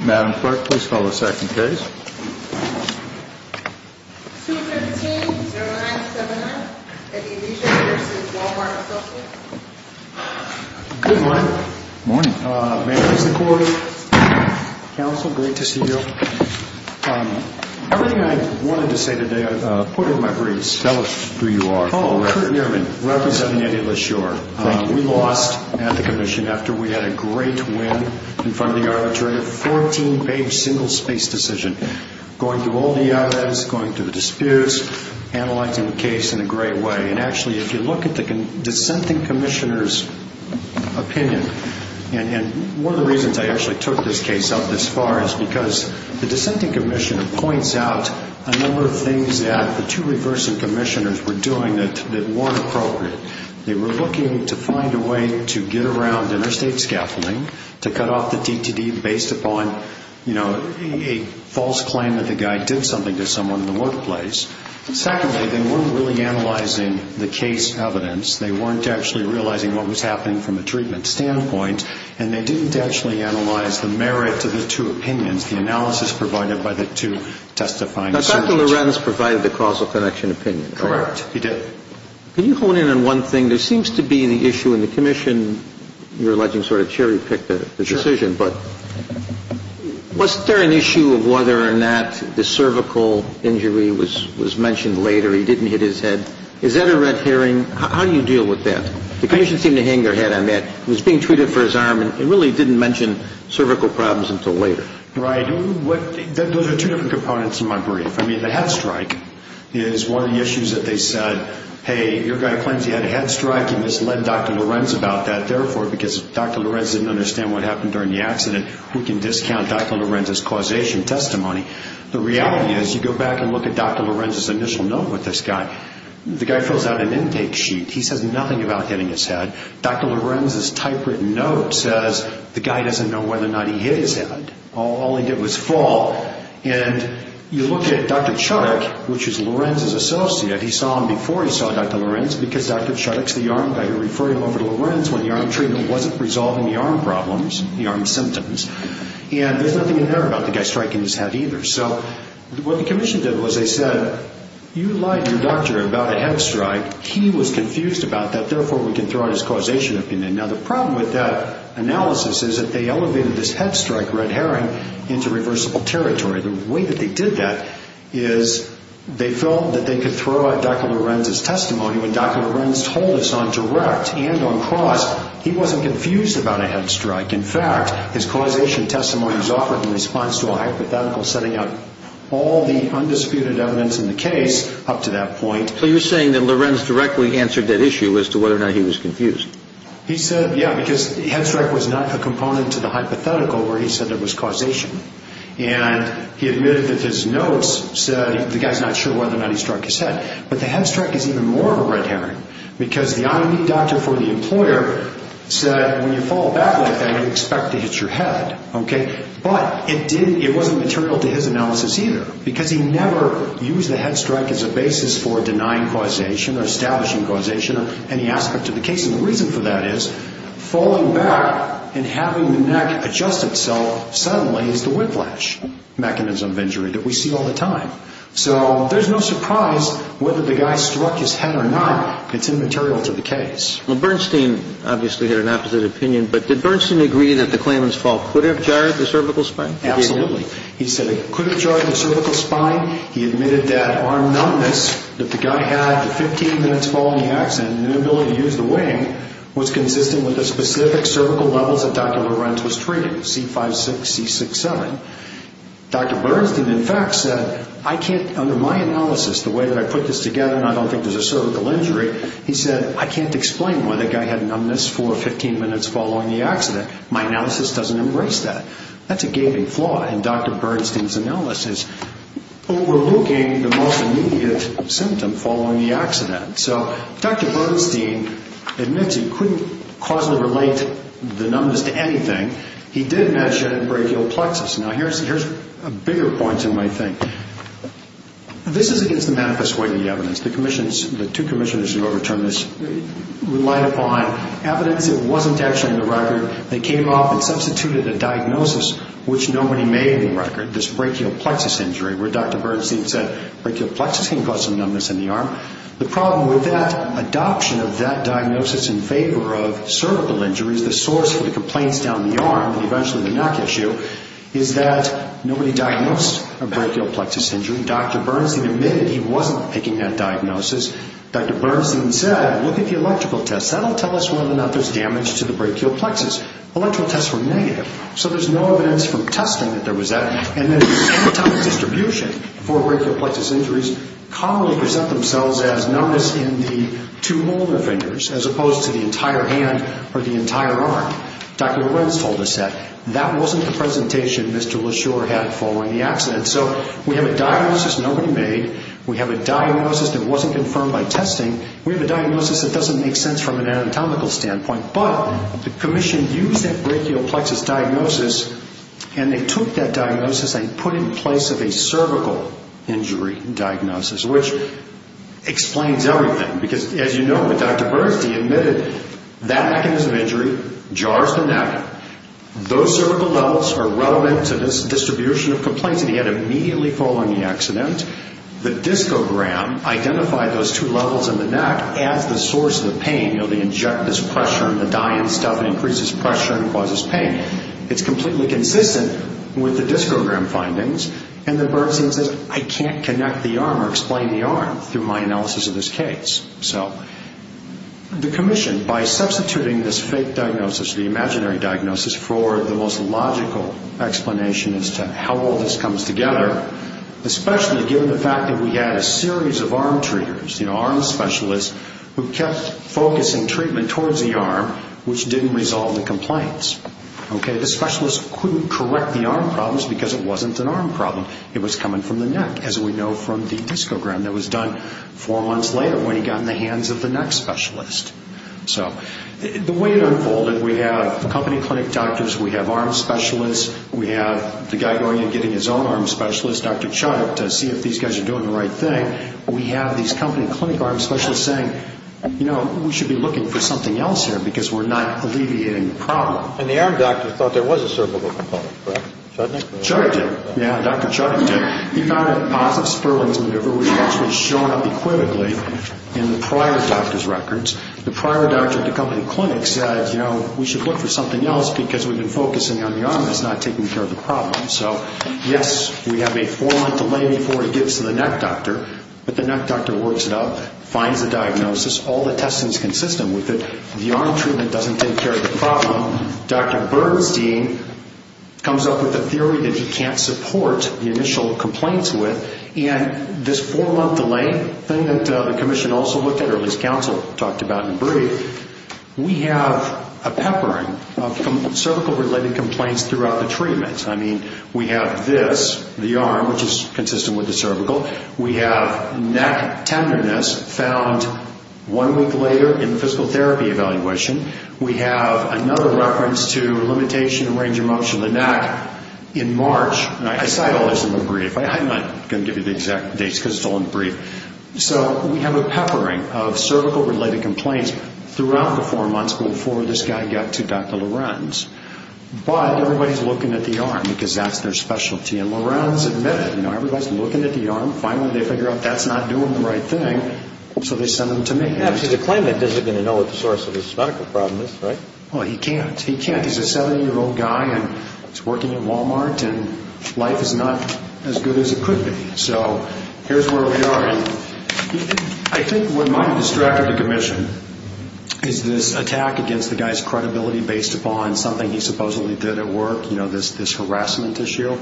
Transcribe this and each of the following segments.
Madam Clerk, please call the second case. 215-09-79 Elysia v. Wal-Mart Associates Good morning. Morning. May I please have the floor? Counsel, great to see you. Everything I wanted to say today, I've put in my briefs. Tell us who you are. Oh, I'm Kurt Nierman, representing Eddie Lesure. Thank you. We lost at the Commission after we had a great win in front of the Arbitrator. A 14-page, single-space decision. Going through all the items, going through the disputes, analyzing the case in a great way. And actually, if you look at the dissenting Commissioner's opinion, and one of the reasons I actually took this case up this far is because the dissenting Commissioner points out a number of things that the two reversing Commissioners were doing that weren't appropriate. They were looking to find a way to get around interstate scaffolding, to cut off the DTD based upon, you know, a false claim that the guy did something to someone in the workplace. Secondly, they weren't really analyzing the case evidence. They weren't actually realizing what was happening from a treatment standpoint. And they didn't actually analyze the merit of the two opinions, the analysis provided by the two testifying... Dr. Lorenz provided the causal connection opinion. Correct, he did. Can you hone in on one thing? There seems to be the issue in the Commission, you're alleging sort of cherry-picked the decision, but was there an issue of whether or not the cervical injury was mentioned later? He didn't hit his head. Is that a red herring? How do you deal with that? The Commission seemed to hang their head on that. He was being treated for his arm and really didn't mention cervical problems until later. Right. Those are two different components in my brief. I mean, the head strike is one of the issues that they said, hey, your guy claims he had a head strike. You must lend Dr. Lorenz about that. Therefore, because Dr. Lorenz didn't understand what happened during the accident, we can discount Dr. Lorenz's causation testimony. The reality is you go back and look at Dr. Lorenz's initial note with this guy. The guy fills out an intake sheet. He says nothing about hitting his head. Dr. Lorenz's typewritten note says the guy doesn't know whether or not he hit his head. All he did was fall. You look at Dr. Chudik, which is Lorenz's associate. He saw him before he saw Dr. Lorenz because Dr. Chudik is the arm guy who referred him over to Lorenz when the arm treatment wasn't resolving the arm problems, the arm symptoms. There's nothing in there about the guy striking his head either. What the Commission did was they said, you lied to your doctor about a head strike. He was confused about that. Therefore, we can throw in his causation opinion. Now, the problem with that analysis is that they elevated this head strike, red herring, into reversible territory. The way that they did that is they felt that they could throw out Dr. Lorenz's testimony. When Dr. Lorenz told us on direct and on cross, he wasn't confused about a head strike. In fact, his causation testimony was offered in response to a hypothetical setting up all the undisputed evidence in the case up to that point. So you're saying that Lorenz directly answered that issue as to whether or not he was confused. He said, yeah, because the head strike was not a component to the hypothetical where he said there was causation. And he admitted that his notes said the guy's not sure whether or not he struck his head. But the head strike is even more of a red herring because the eye-meet doctor for the employer said, when you fall back like that, you expect to hit your head. But it wasn't material to his analysis either because he never used the head strike as a basis for denying causation or establishing causation or any aspect of the case. And the reason for that is falling back and having the neck adjust itself suddenly is the whiplash mechanism of injury that we see all the time. So there's no surprise whether the guy struck his head or not. It's immaterial to the case. Well, Bernstein obviously had an opposite opinion. But did Bernstein agree that the claimant's fault could have jarred the cervical spine? Absolutely. He said it could have jarred the cervical spine. He admitted that arm numbness that the guy had 15 minutes following the accident and inability to use the wing was consistent with the specific cervical levels that Dr. Lorenz was treating, C5-6, C6-7. Dr. Bernstein, in fact, said, under my analysis, the way that I put this together, and I don't think there's a cervical injury, he said, I can't explain why the guy had numbness for 15 minutes following the accident. My analysis doesn't embrace that. Overlooking the most immediate symptom following the accident. So Dr. Bernstein admits he couldn't causally relate the numbness to anything. He did mention brachial plexus. Now, here's a bigger point, you might think. This is against the manifest way of the evidence. The two commissioners who overturned this relied upon evidence that wasn't actually in the record. They came off and substituted a diagnosis which nobody made in the record, this brachial plexus injury, where Dr. Bernstein said brachial plexus can cause some numbness in the arm. The problem with that adoption of that diagnosis in favor of cervical injuries, the source for the complaints down the arm and eventually the neck issue, is that nobody diagnosed a brachial plexus injury. Dr. Bernstein admitted he wasn't making that diagnosis. Dr. Bernstein said, look at the electrical tests. That will tell us whether or not there's damage to the brachial plexus. Electrical tests were negative. So there's no evidence from testing that there was that. And then the anatomic distribution for brachial plexus injuries commonly present themselves as numbness in the two molar fingers as opposed to the entire hand or the entire arm. Dr. Lorenz told us that that wasn't the presentation Mr. LaSure had following the accident. So we have a diagnosis nobody made. We have a diagnosis that wasn't confirmed by testing. We have a diagnosis that doesn't make sense from an anatomical standpoint. But the commission used that brachial plexus diagnosis, and they took that diagnosis and put it in place of a cervical injury diagnosis, which explains everything because, as you know, Dr. Bernstein admitted that mechanism of injury jars the neck. Those cervical levels are relevant to this distribution of complaints, and he had it immediately following the accident. The discogram identified those two levels in the neck as the source of the pain. You know, they inject this pressure, and the dying stuff increases pressure and causes pain. It's completely consistent with the discogram findings. And then Bernstein says, I can't connect the arm or explain the arm through my analysis of this case. So the commission, by substituting this fake diagnosis, the imaginary diagnosis, for the most logical explanation as to how all this comes together, especially given the fact that we had a series of arm treaters, you know, arm specialists, who kept focusing treatment towards the arm, which didn't resolve the complaints. Okay, the specialist couldn't correct the arm problems because it wasn't an arm problem. It was coming from the neck, as we know from the discogram that was done four months later when he got in the hands of the neck specialist. So the way it unfolded, we have company clinic doctors, we have arm specialists, we have the guy going in and getting his own arm specialist, Dr. Chuck, to see if these guys are doing the right thing. And then we have these company clinic arm specialists saying, you know, we should be looking for something else here because we're not alleviating the problem. And the arm doctor thought there was a cervical component, correct? Chudnik? Chudnik did, yeah, Dr. Chudnik did. He found a positive Sperling's maneuver, which actually showed up equivocally in the prior doctor's records. The prior doctor at the company clinic said, you know, we should look for something else because we've been focusing on the arm that's not taking care of the problem. So, yes, we have a four-month delay before it gets to the neck doctor, but the neck doctor works it up, finds the diagnosis, all the testing is consistent with it, the arm treatment doesn't take care of the problem. Dr. Bernstein comes up with a theory that he can't support the initial complaints with, and this four-month delay thing that the commission also looked at, or at least counsel talked about in brief, we have a peppering of cervical-related complaints throughout the treatment. I mean, we have this, the arm, which is consistent with the cervical. We have neck tenderness found one week later in the physical therapy evaluation. We have another reference to limitation and range of motion of the neck in March. And I cite all this in the brief. I'm not going to give you the exact dates because it's all in the brief. So we have a peppering of cervical-related complaints throughout the four months before this guy got to Dr. Lorenz. But everybody's looking at the arm because that's their specialty, and Lorenz admitted, you know, everybody's looking at the arm. Finally, they figure out that's not doing the right thing, so they send him to me. Yeah, because he's a claimant. He doesn't even know what the source of his medical problem is, right? Well, he can't. He can't. He's a 70-year-old guy, and he's working at Walmart, and life is not as good as it could be. So here's where we are. And I think what might have distracted the commission is this attack against the guy's credibility based upon something he supposedly did at work, you know, this harassment issue.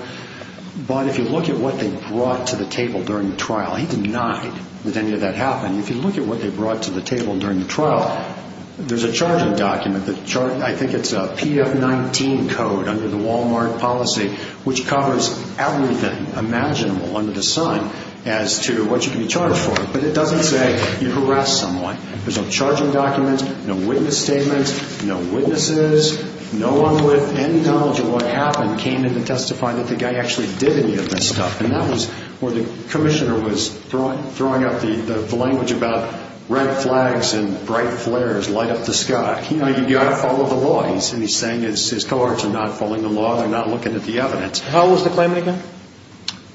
But if you look at what they brought to the table during the trial, he denied that any of that happened. If you look at what they brought to the table during the trial, there's a charging document. I think it's a PF-19 code under the Walmart policy, which covers everything imaginable under the sun as to what you can be charged for. But it doesn't say you harassed someone. There's no charging documents, no witness statements, no witnesses, no one with any knowledge of what happened came in to testify that the guy actually did any of this stuff. And that was where the commissioner was throwing out the language about red flags and bright flares light up the sky. You know, you've got to follow the law. And he's saying his cohorts are not following the law. They're not looking at the evidence. How old was the claimant again?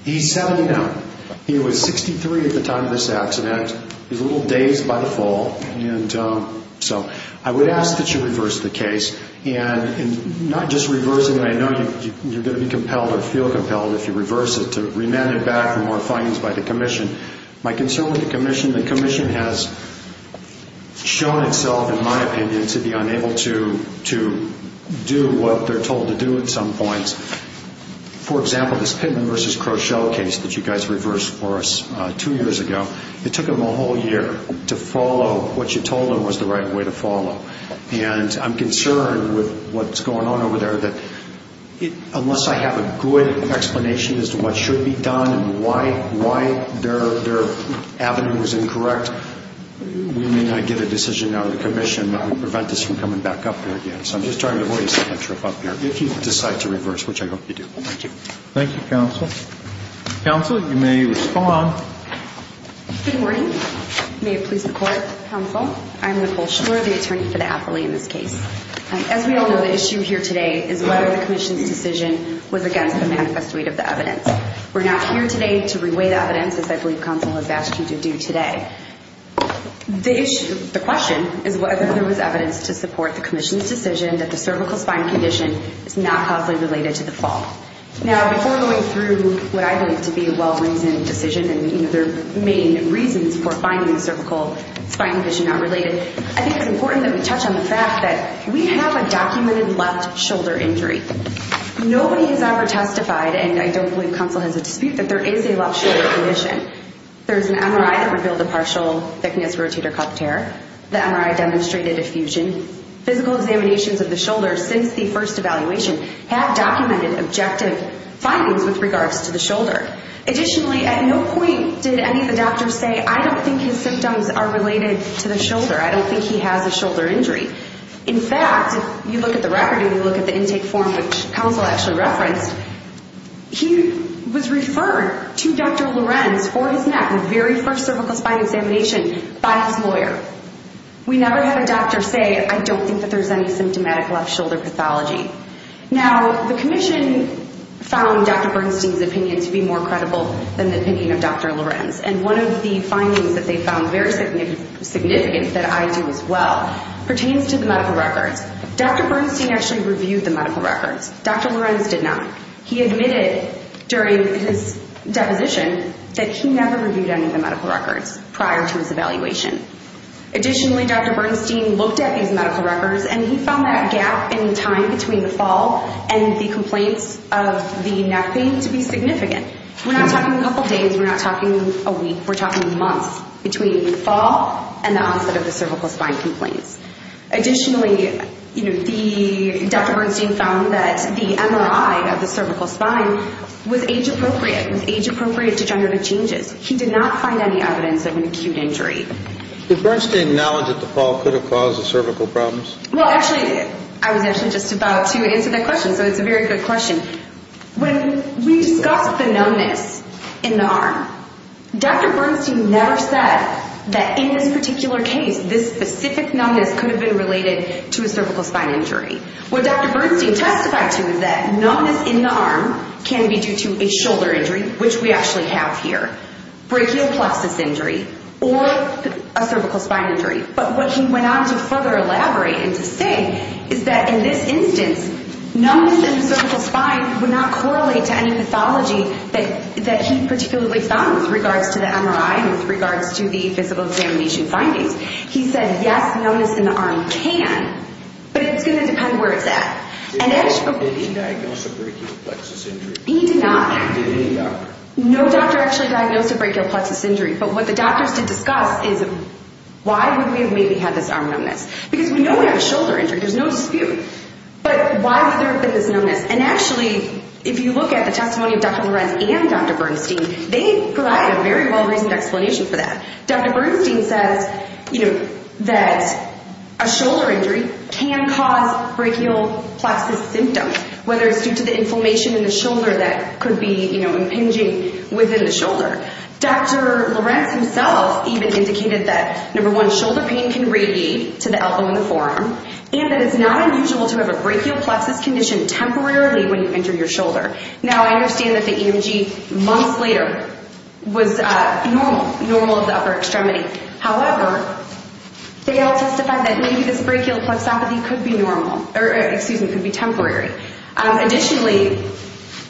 He's 79. He was 63 at the time of this accident. He was a little dazed by the fall. And so I would ask that you reverse the case. And not just reverse it. I know you're going to be compelled or feel compelled if you reverse it to remand it back for more findings by the commission. My concern with the commission, the commission has shown itself, in my opinion, to be unable to do what they're told to do at some points. For example, this Pittman v. Crochelle case that you guys reversed for us two years ago, it took them a whole year to follow what you told them was the right way to follow. And I'm concerned with what's going on over there, that unless I have a good explanation as to what should be done and why their avenue was incorrect, we may not get a decision out of the commission that would prevent us from coming back up here again. So I'm just trying to avoid setting a trip up here. If you decide to reverse, which I hope you do. Thank you. Thank you, counsel. Counsel, you may respond. Good morning. May it please the Court. Counsel, I'm Nicole Schwer, the attorney for the appellee in this case. As we all know, the issue here today is whether the commission's decision was against the manifesto of the evidence. We're not here today to reweigh the evidence, as I believe counsel has asked you to do today. The question is whether there was evidence to support the commission's decision that the cervical spine condition is not causally related to the fall. Now, before going through what I believe to be a well-reasoned decision and their main reasons for finding the cervical spine condition not related, I think it's important that we touch on the fact that we have a documented left shoulder injury. Nobody has ever testified, and I don't believe counsel has a dispute, that there is a left shoulder condition. There's an MRI that revealed a partial thickness rotator cuff tear. The MRI demonstrated a fusion. Physical examinations of the shoulders since the first evaluation have documented objective findings with regards to the shoulder. Additionally, at no point did any of the doctors say, I don't think his symptoms are related to the shoulder. I don't think he has a shoulder injury. In fact, if you look at the record and you look at the intake form, which counsel actually referenced, he was referred to Dr. Lorenz for his neck, the very first cervical spine examination, by his lawyer. We never had a doctor say, I don't think that there's any symptomatic left shoulder pathology. Now, the commission found Dr. Bernstein's opinion to be more credible than the opinion of Dr. Lorenz, and one of the findings that they found very significant, that I do as well, pertains to the medical records. Dr. Bernstein actually reviewed the medical records. Dr. Lorenz did not. He admitted during his deposition that he never reviewed any of the medical records prior to his evaluation. Additionally, Dr. Bernstein looked at these medical records, and he found that gap in time between the fall and the complaints of the neck pain to be significant. We're not talking a couple days. We're not talking a week. We're talking months between the fall and the onset of the cervical spine complaints. Additionally, Dr. Bernstein found that the MRI of the cervical spine was age-appropriate, was age-appropriate to generative changes. He did not find any evidence of an acute injury. Did Bernstein acknowledge that the fall could have caused the cervical problems? Well, actually, I was actually just about to answer that question, so it's a very good question. When we discussed the numbness in the arm, Dr. Bernstein never said that in this particular case, this specific numbness could have been related to a cervical spine injury. What Dr. Bernstein testified to is that numbness in the arm can be due to a shoulder injury, which we actually have here, brachial plexus injury, or a cervical spine injury. But what he went on to further elaborate and to say is that in this instance, numbness in the cervical spine would not correlate to any pathology that he particularly found with regards to the MRI and with regards to the physical examination findings. He said, yes, numbness in the arm can, but it's going to depend where it's at. Did he diagnose a brachial plexus injury? He did not. Did any doctor? No doctor actually diagnosed a brachial plexus injury. But what the doctors did discuss is why would we have maybe had this arm numbness? Because we know we have a shoulder injury. There's no dispute. But why would there have been this numbness? And actually, if you look at the testimony of Dr. Lorenz and Dr. Bernstein, they provide a very well-reasoned explanation for that. Dr. Bernstein says that a shoulder injury can cause brachial plexus symptoms, whether it's due to the inflammation in the shoulder that could be, you know, impinging within the shoulder. Dr. Lorenz himself even indicated that, number one, shoulder pain can radiate to the elbow and the forearm, and that it's not unusual to have a brachial plexus condition temporarily when you enter your shoulder. Now, I understand that the EMG months later was normal, normal of the upper extremity. However, they all testified that maybe this brachial plexopathy could be normal or, excuse me, could be temporary. Additionally,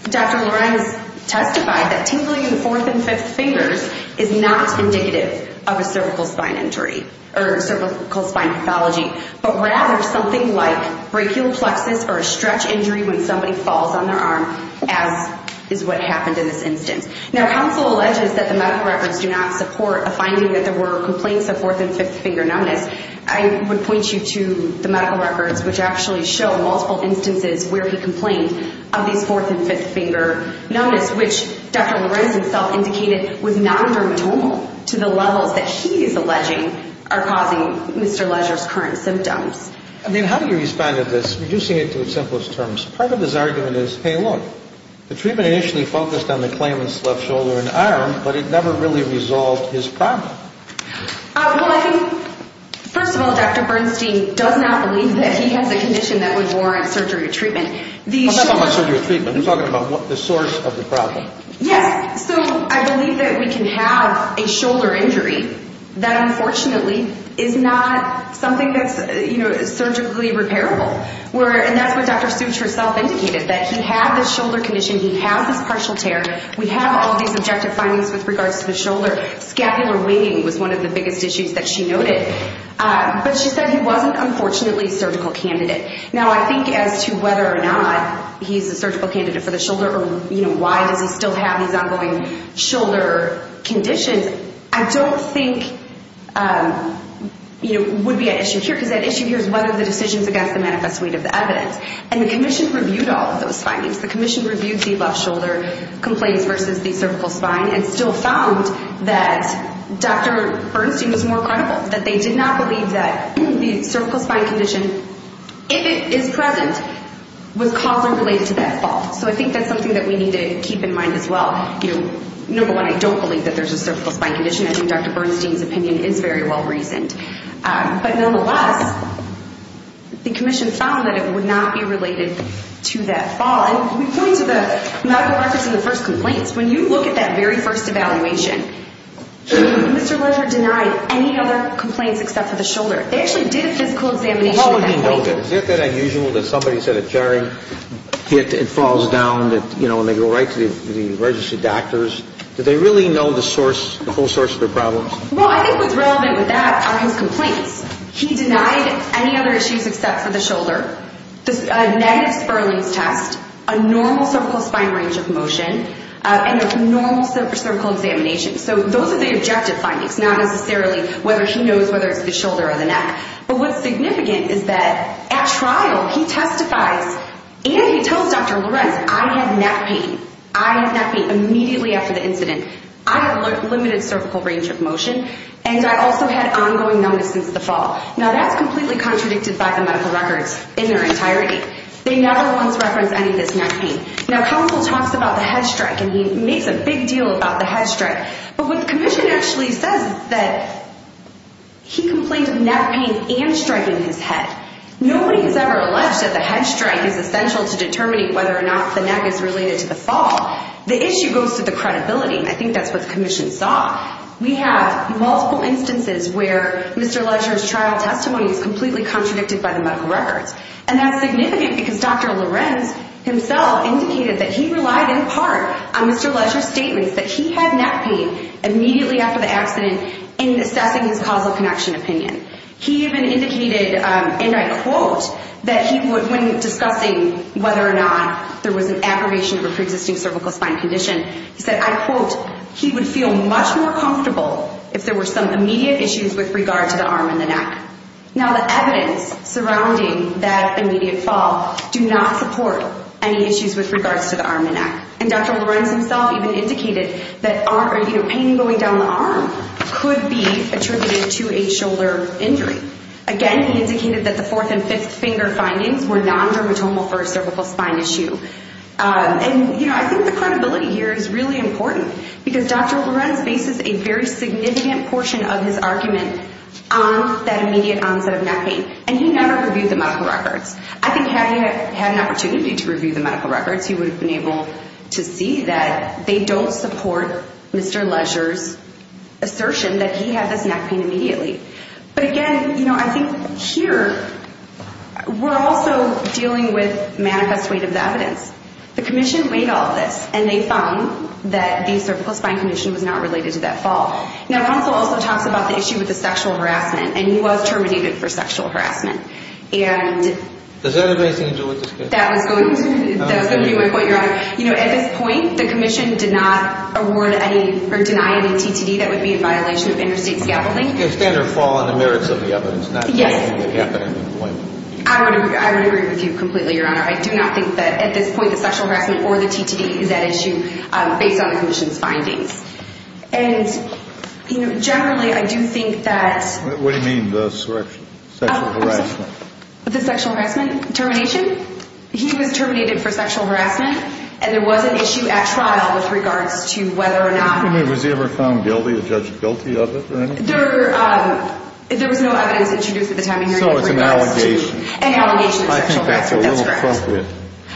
Dr. Lorenz testified that tingling in the fourth and fifth fingers is not indicative of a cervical spine injury or cervical spine pathology, but rather something like brachial plexus or a stretch injury when somebody falls on their arm, as is what happened in this instance. Now, counsel alleges that the medical records do not support a finding that there were complaints of fourth and fifth finger numbness. I would point you to the medical records, which actually show multiple instances where he complained of these fourth and fifth finger numbness, which Dr. Lorenz himself indicated was non-dermatomal to the levels that he is alleging are causing Mr. Leger's current symptoms. I mean, how do you respond to this, reducing it to the simplest terms? Part of his argument is, hey, look, the treatment initially focused on the claimant's left shoulder and arm, but it never really resolved his problem. Well, I think, first of all, Dr. Bernstein does not believe that he has a condition that would warrant surgery or treatment. I'm not talking about surgery or treatment. I'm talking about the source of the problem. Yes, so I believe that we can have a shoulder injury that unfortunately is not something that's surgically repairable, and that's what Dr. Such herself indicated, that he had this shoulder condition, he had this partial tear, we have all these objective findings with regards to the shoulder, scapular winging was one of the biggest issues that she noted. But she said he wasn't, unfortunately, a surgical candidate. Now, I think as to whether or not he's a surgical candidate for the shoulder or why does he still have these ongoing shoulder conditions, I don't think would be an issue here, because that issue here is whether the decision is against the manifest weight of the evidence. And the commission reviewed all of those findings. The commission reviewed the left shoulder complaints versus the cervical spine and still found that Dr. Bernstein was more credible, that they did not believe that the cervical spine condition, if it is present, was causally related to that fall. So I think that's something that we need to keep in mind as well. Number one, I don't believe that there's a cervical spine condition. I think Dr. Bernstein's opinion is very well reasoned. But nonetheless, the commission found that it would not be related to that fall. And we point to the medical records in the first complaints. When you look at that very first evaluation, Mr. Lesher denied any other complaints except for the shoulder. They actually did a physical examination at that point. What would he have noted? Is it that unusual that somebody said a jarring hit and falls down, you know, and they go right to the registered doctors? Did they really know the source, the whole source of their problems? Well, I think what's relevant with that are his complaints. He denied any other issues except for the shoulder, a negative Spurling's test, a normal cervical spine range of motion, and a normal cervical examination. So those are the objective findings, not necessarily whether he knows whether it's the shoulder or the neck. But what's significant is that at trial he testifies and he tells Dr. Lorenz, I had neck pain. I had neck pain immediately after the incident. I had limited cervical range of motion, and I also had ongoing numbness since the fall. Now that's completely contradicted by the medical records in their entirety. They never once referenced any of this neck pain. Now, counsel talks about the head strike, and he makes a big deal about the head strike. But what the commission actually says is that he complained of neck pain and striking his head. Nobody has ever alleged that the head strike is essential to determining whether or not the neck is related to the fall. The issue goes to the credibility. I think that's what the commission saw. We have multiple instances where Mr. Ledger's trial testimony is completely contradicted by the medical records. And that's significant because Dr. Lorenz himself indicated that he relied in part on Mr. Ledger's statements that he had neck pain immediately after the accident in assessing his causal connection opinion. He even indicated, and I quote, that he would, when discussing whether or not there was an aberration of a preexisting cervical spine condition, he said, I quote, he would feel much more comfortable if there were some immediate issues with regard to the arm and the neck. Now the evidence surrounding that immediate fall do not support any issues with regards to the arm and neck. And Dr. Lorenz himself even indicated that pain going down the arm could be attributed to a shoulder injury. Again, he indicated that the fourth and fifth finger findings were non-dermatomal for a cervical spine issue. And I think the credibility here is really important because Dr. Lorenz bases a very significant portion of his argument on that immediate onset of neck pain. And he never reviewed the medical records. I think had he had an opportunity to review the medical records, he would have been able to see that they don't support Mr. Ledger's assertion that he had this neck pain immediately. But again, you know, I think here we're also dealing with manifest weight of the evidence. The commission weighed all this, and they found that the cervical spine condition was not related to that fall. Now, counsel also talks about the issue with the sexual harassment, and he was terminated for sexual harassment. Does that have anything to do with this case? That was going to be my point, Your Honor. You know, at this point, the commission did not award any or deny any TTD that would be in violation of interstate scavenging. It's standard fall on the merits of the evidence, not only the gap in employment. I would agree with you completely, Your Honor. I do not think that at this point the sexual harassment or the TTD is at issue based on the commission's findings. And, you know, generally I do think that... What do you mean, the sexual harassment? The sexual harassment termination? He was terminated for sexual harassment, and there was an issue at trial with regards to whether or not... I mean, was he ever found guilty or judged guilty of it or anything? There was no evidence introduced at the time of hearing. So it's an allegation. An allegation of sexual harassment. I think that's a little appropriate,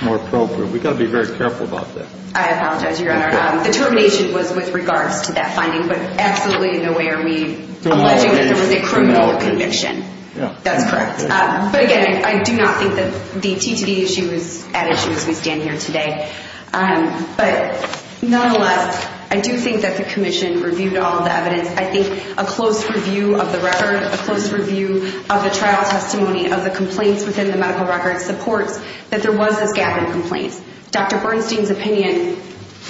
more appropriate. We've got to be very careful about that. I apologize, Your Honor. The termination was with regards to that finding, but absolutely in no way are we alleging that it was a criminal conviction. That's correct. But again, I do not think that the TTD issue is at issue as we stand here today. But nonetheless, I do think that the commission reviewed all of the evidence. I think a close review of the record, a close review of the trial testimony, of the complaints within the medical records supports that there was this gap in complaints. Dr. Bernstein's opinion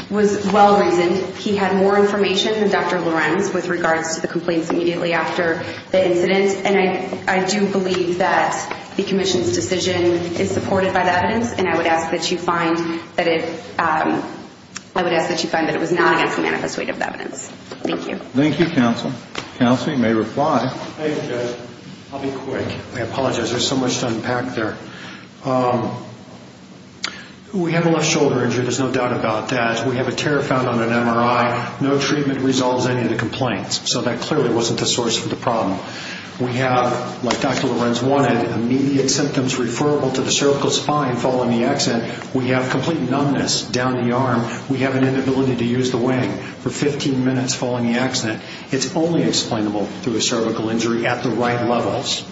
was well-reasoned. He had more information than Dr. Lorenz with regards to the complaints immediately after the incident. And I do believe that the commission's decision is supported by the evidence, and I would ask that you find that it was not against the manifest weight of the evidence. Thank you. Thank you, counsel. Counsel, you may reply. Thank you, Judge. I'll be quick. I apologize. There's so much to unpack there. We have a left shoulder injury. There's no doubt about that. We have a tear found on an MRI. No treatment resolves any of the complaints. So that clearly wasn't the source of the problem. We have, like Dr. Lorenz wanted, immediate symptoms referable to the cervical spine following the accident. We have complete numbness down the arm. We have an inability to use the wing for 15 minutes following the accident. It's only explainable through a cervical injury at the right levels.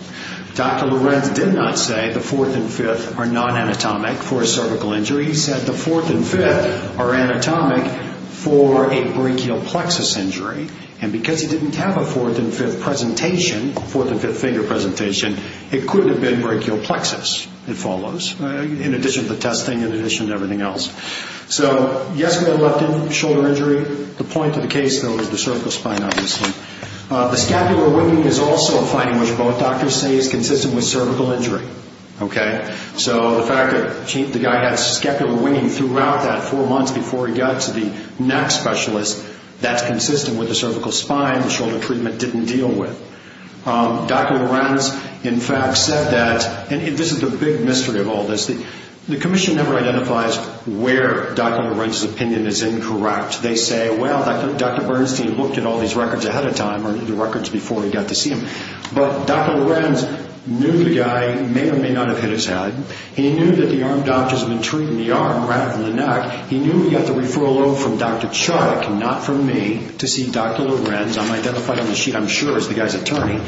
Dr. Lorenz did not say the fourth and fifth are non-anatomic for a cervical injury. He said the fourth and fifth are anatomic for a brachial plexus injury. And because he didn't have a fourth and fifth presentation, a fourth and fifth finger presentation, it could have been brachial plexus. It follows, in addition to the testing, in addition to everything else. So, yes, we had a left shoulder injury. The point of the case, though, is the cervical spine, obviously. The scapular winging is also a finding which both doctors say is consistent with cervical injury. Okay? So the fact that the guy had scapular winging throughout that four months before he got to the neck specialist, that's consistent with the cervical spine the shoulder treatment didn't deal with. Dr. Lorenz, in fact, said that, and this is the big mystery of all this, the commission never identifies where Dr. Lorenz's opinion is incorrect. They say, well, Dr. Bernstein looked at all these records ahead of time, or the records before he got to see him. But Dr. Lorenz knew the guy, may or may not have hit his head. He knew that the arm doctors had been treating the arm rather than the neck. He knew he got the referral from Dr. Chuck, not from me, to see Dr. Lorenz. I'm identified on the sheet, I'm sure, as the guy's attorney.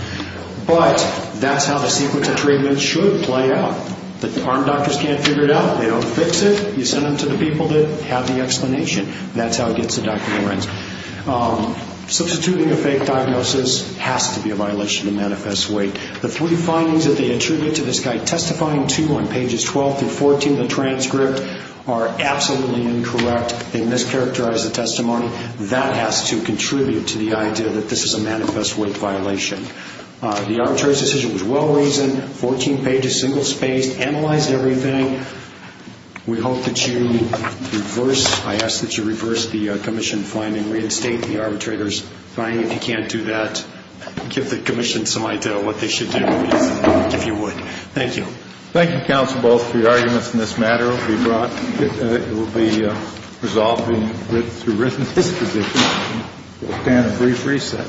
But that's how the sequence of treatments should play out. The arm doctors can't figure it out. They don't fix it. You send them to the people that have the explanation. That's how it gets to Dr. Lorenz. Substituting a fake diagnosis has to be a violation of manifest weight. The three findings that they attribute to this guy testifying to on pages 12 through 14 of the transcript are absolutely incorrect. They mischaracterized the testimony. That has to contribute to the idea that this is a manifest weight violation. The arbitrator's decision was well-reasoned, 14 pages, single-spaced, analyzed everything. We hope that you reverse, I ask that you reverse the commission finding, and reinstate the arbitrator's finding. If you can't do that, give the commission some idea of what they should do, if you would. Thank you. Thank you, counsel, both, for your arguments in this matter. It will be resolved through written disposition. We'll stand at brief recess. Excusez-moi.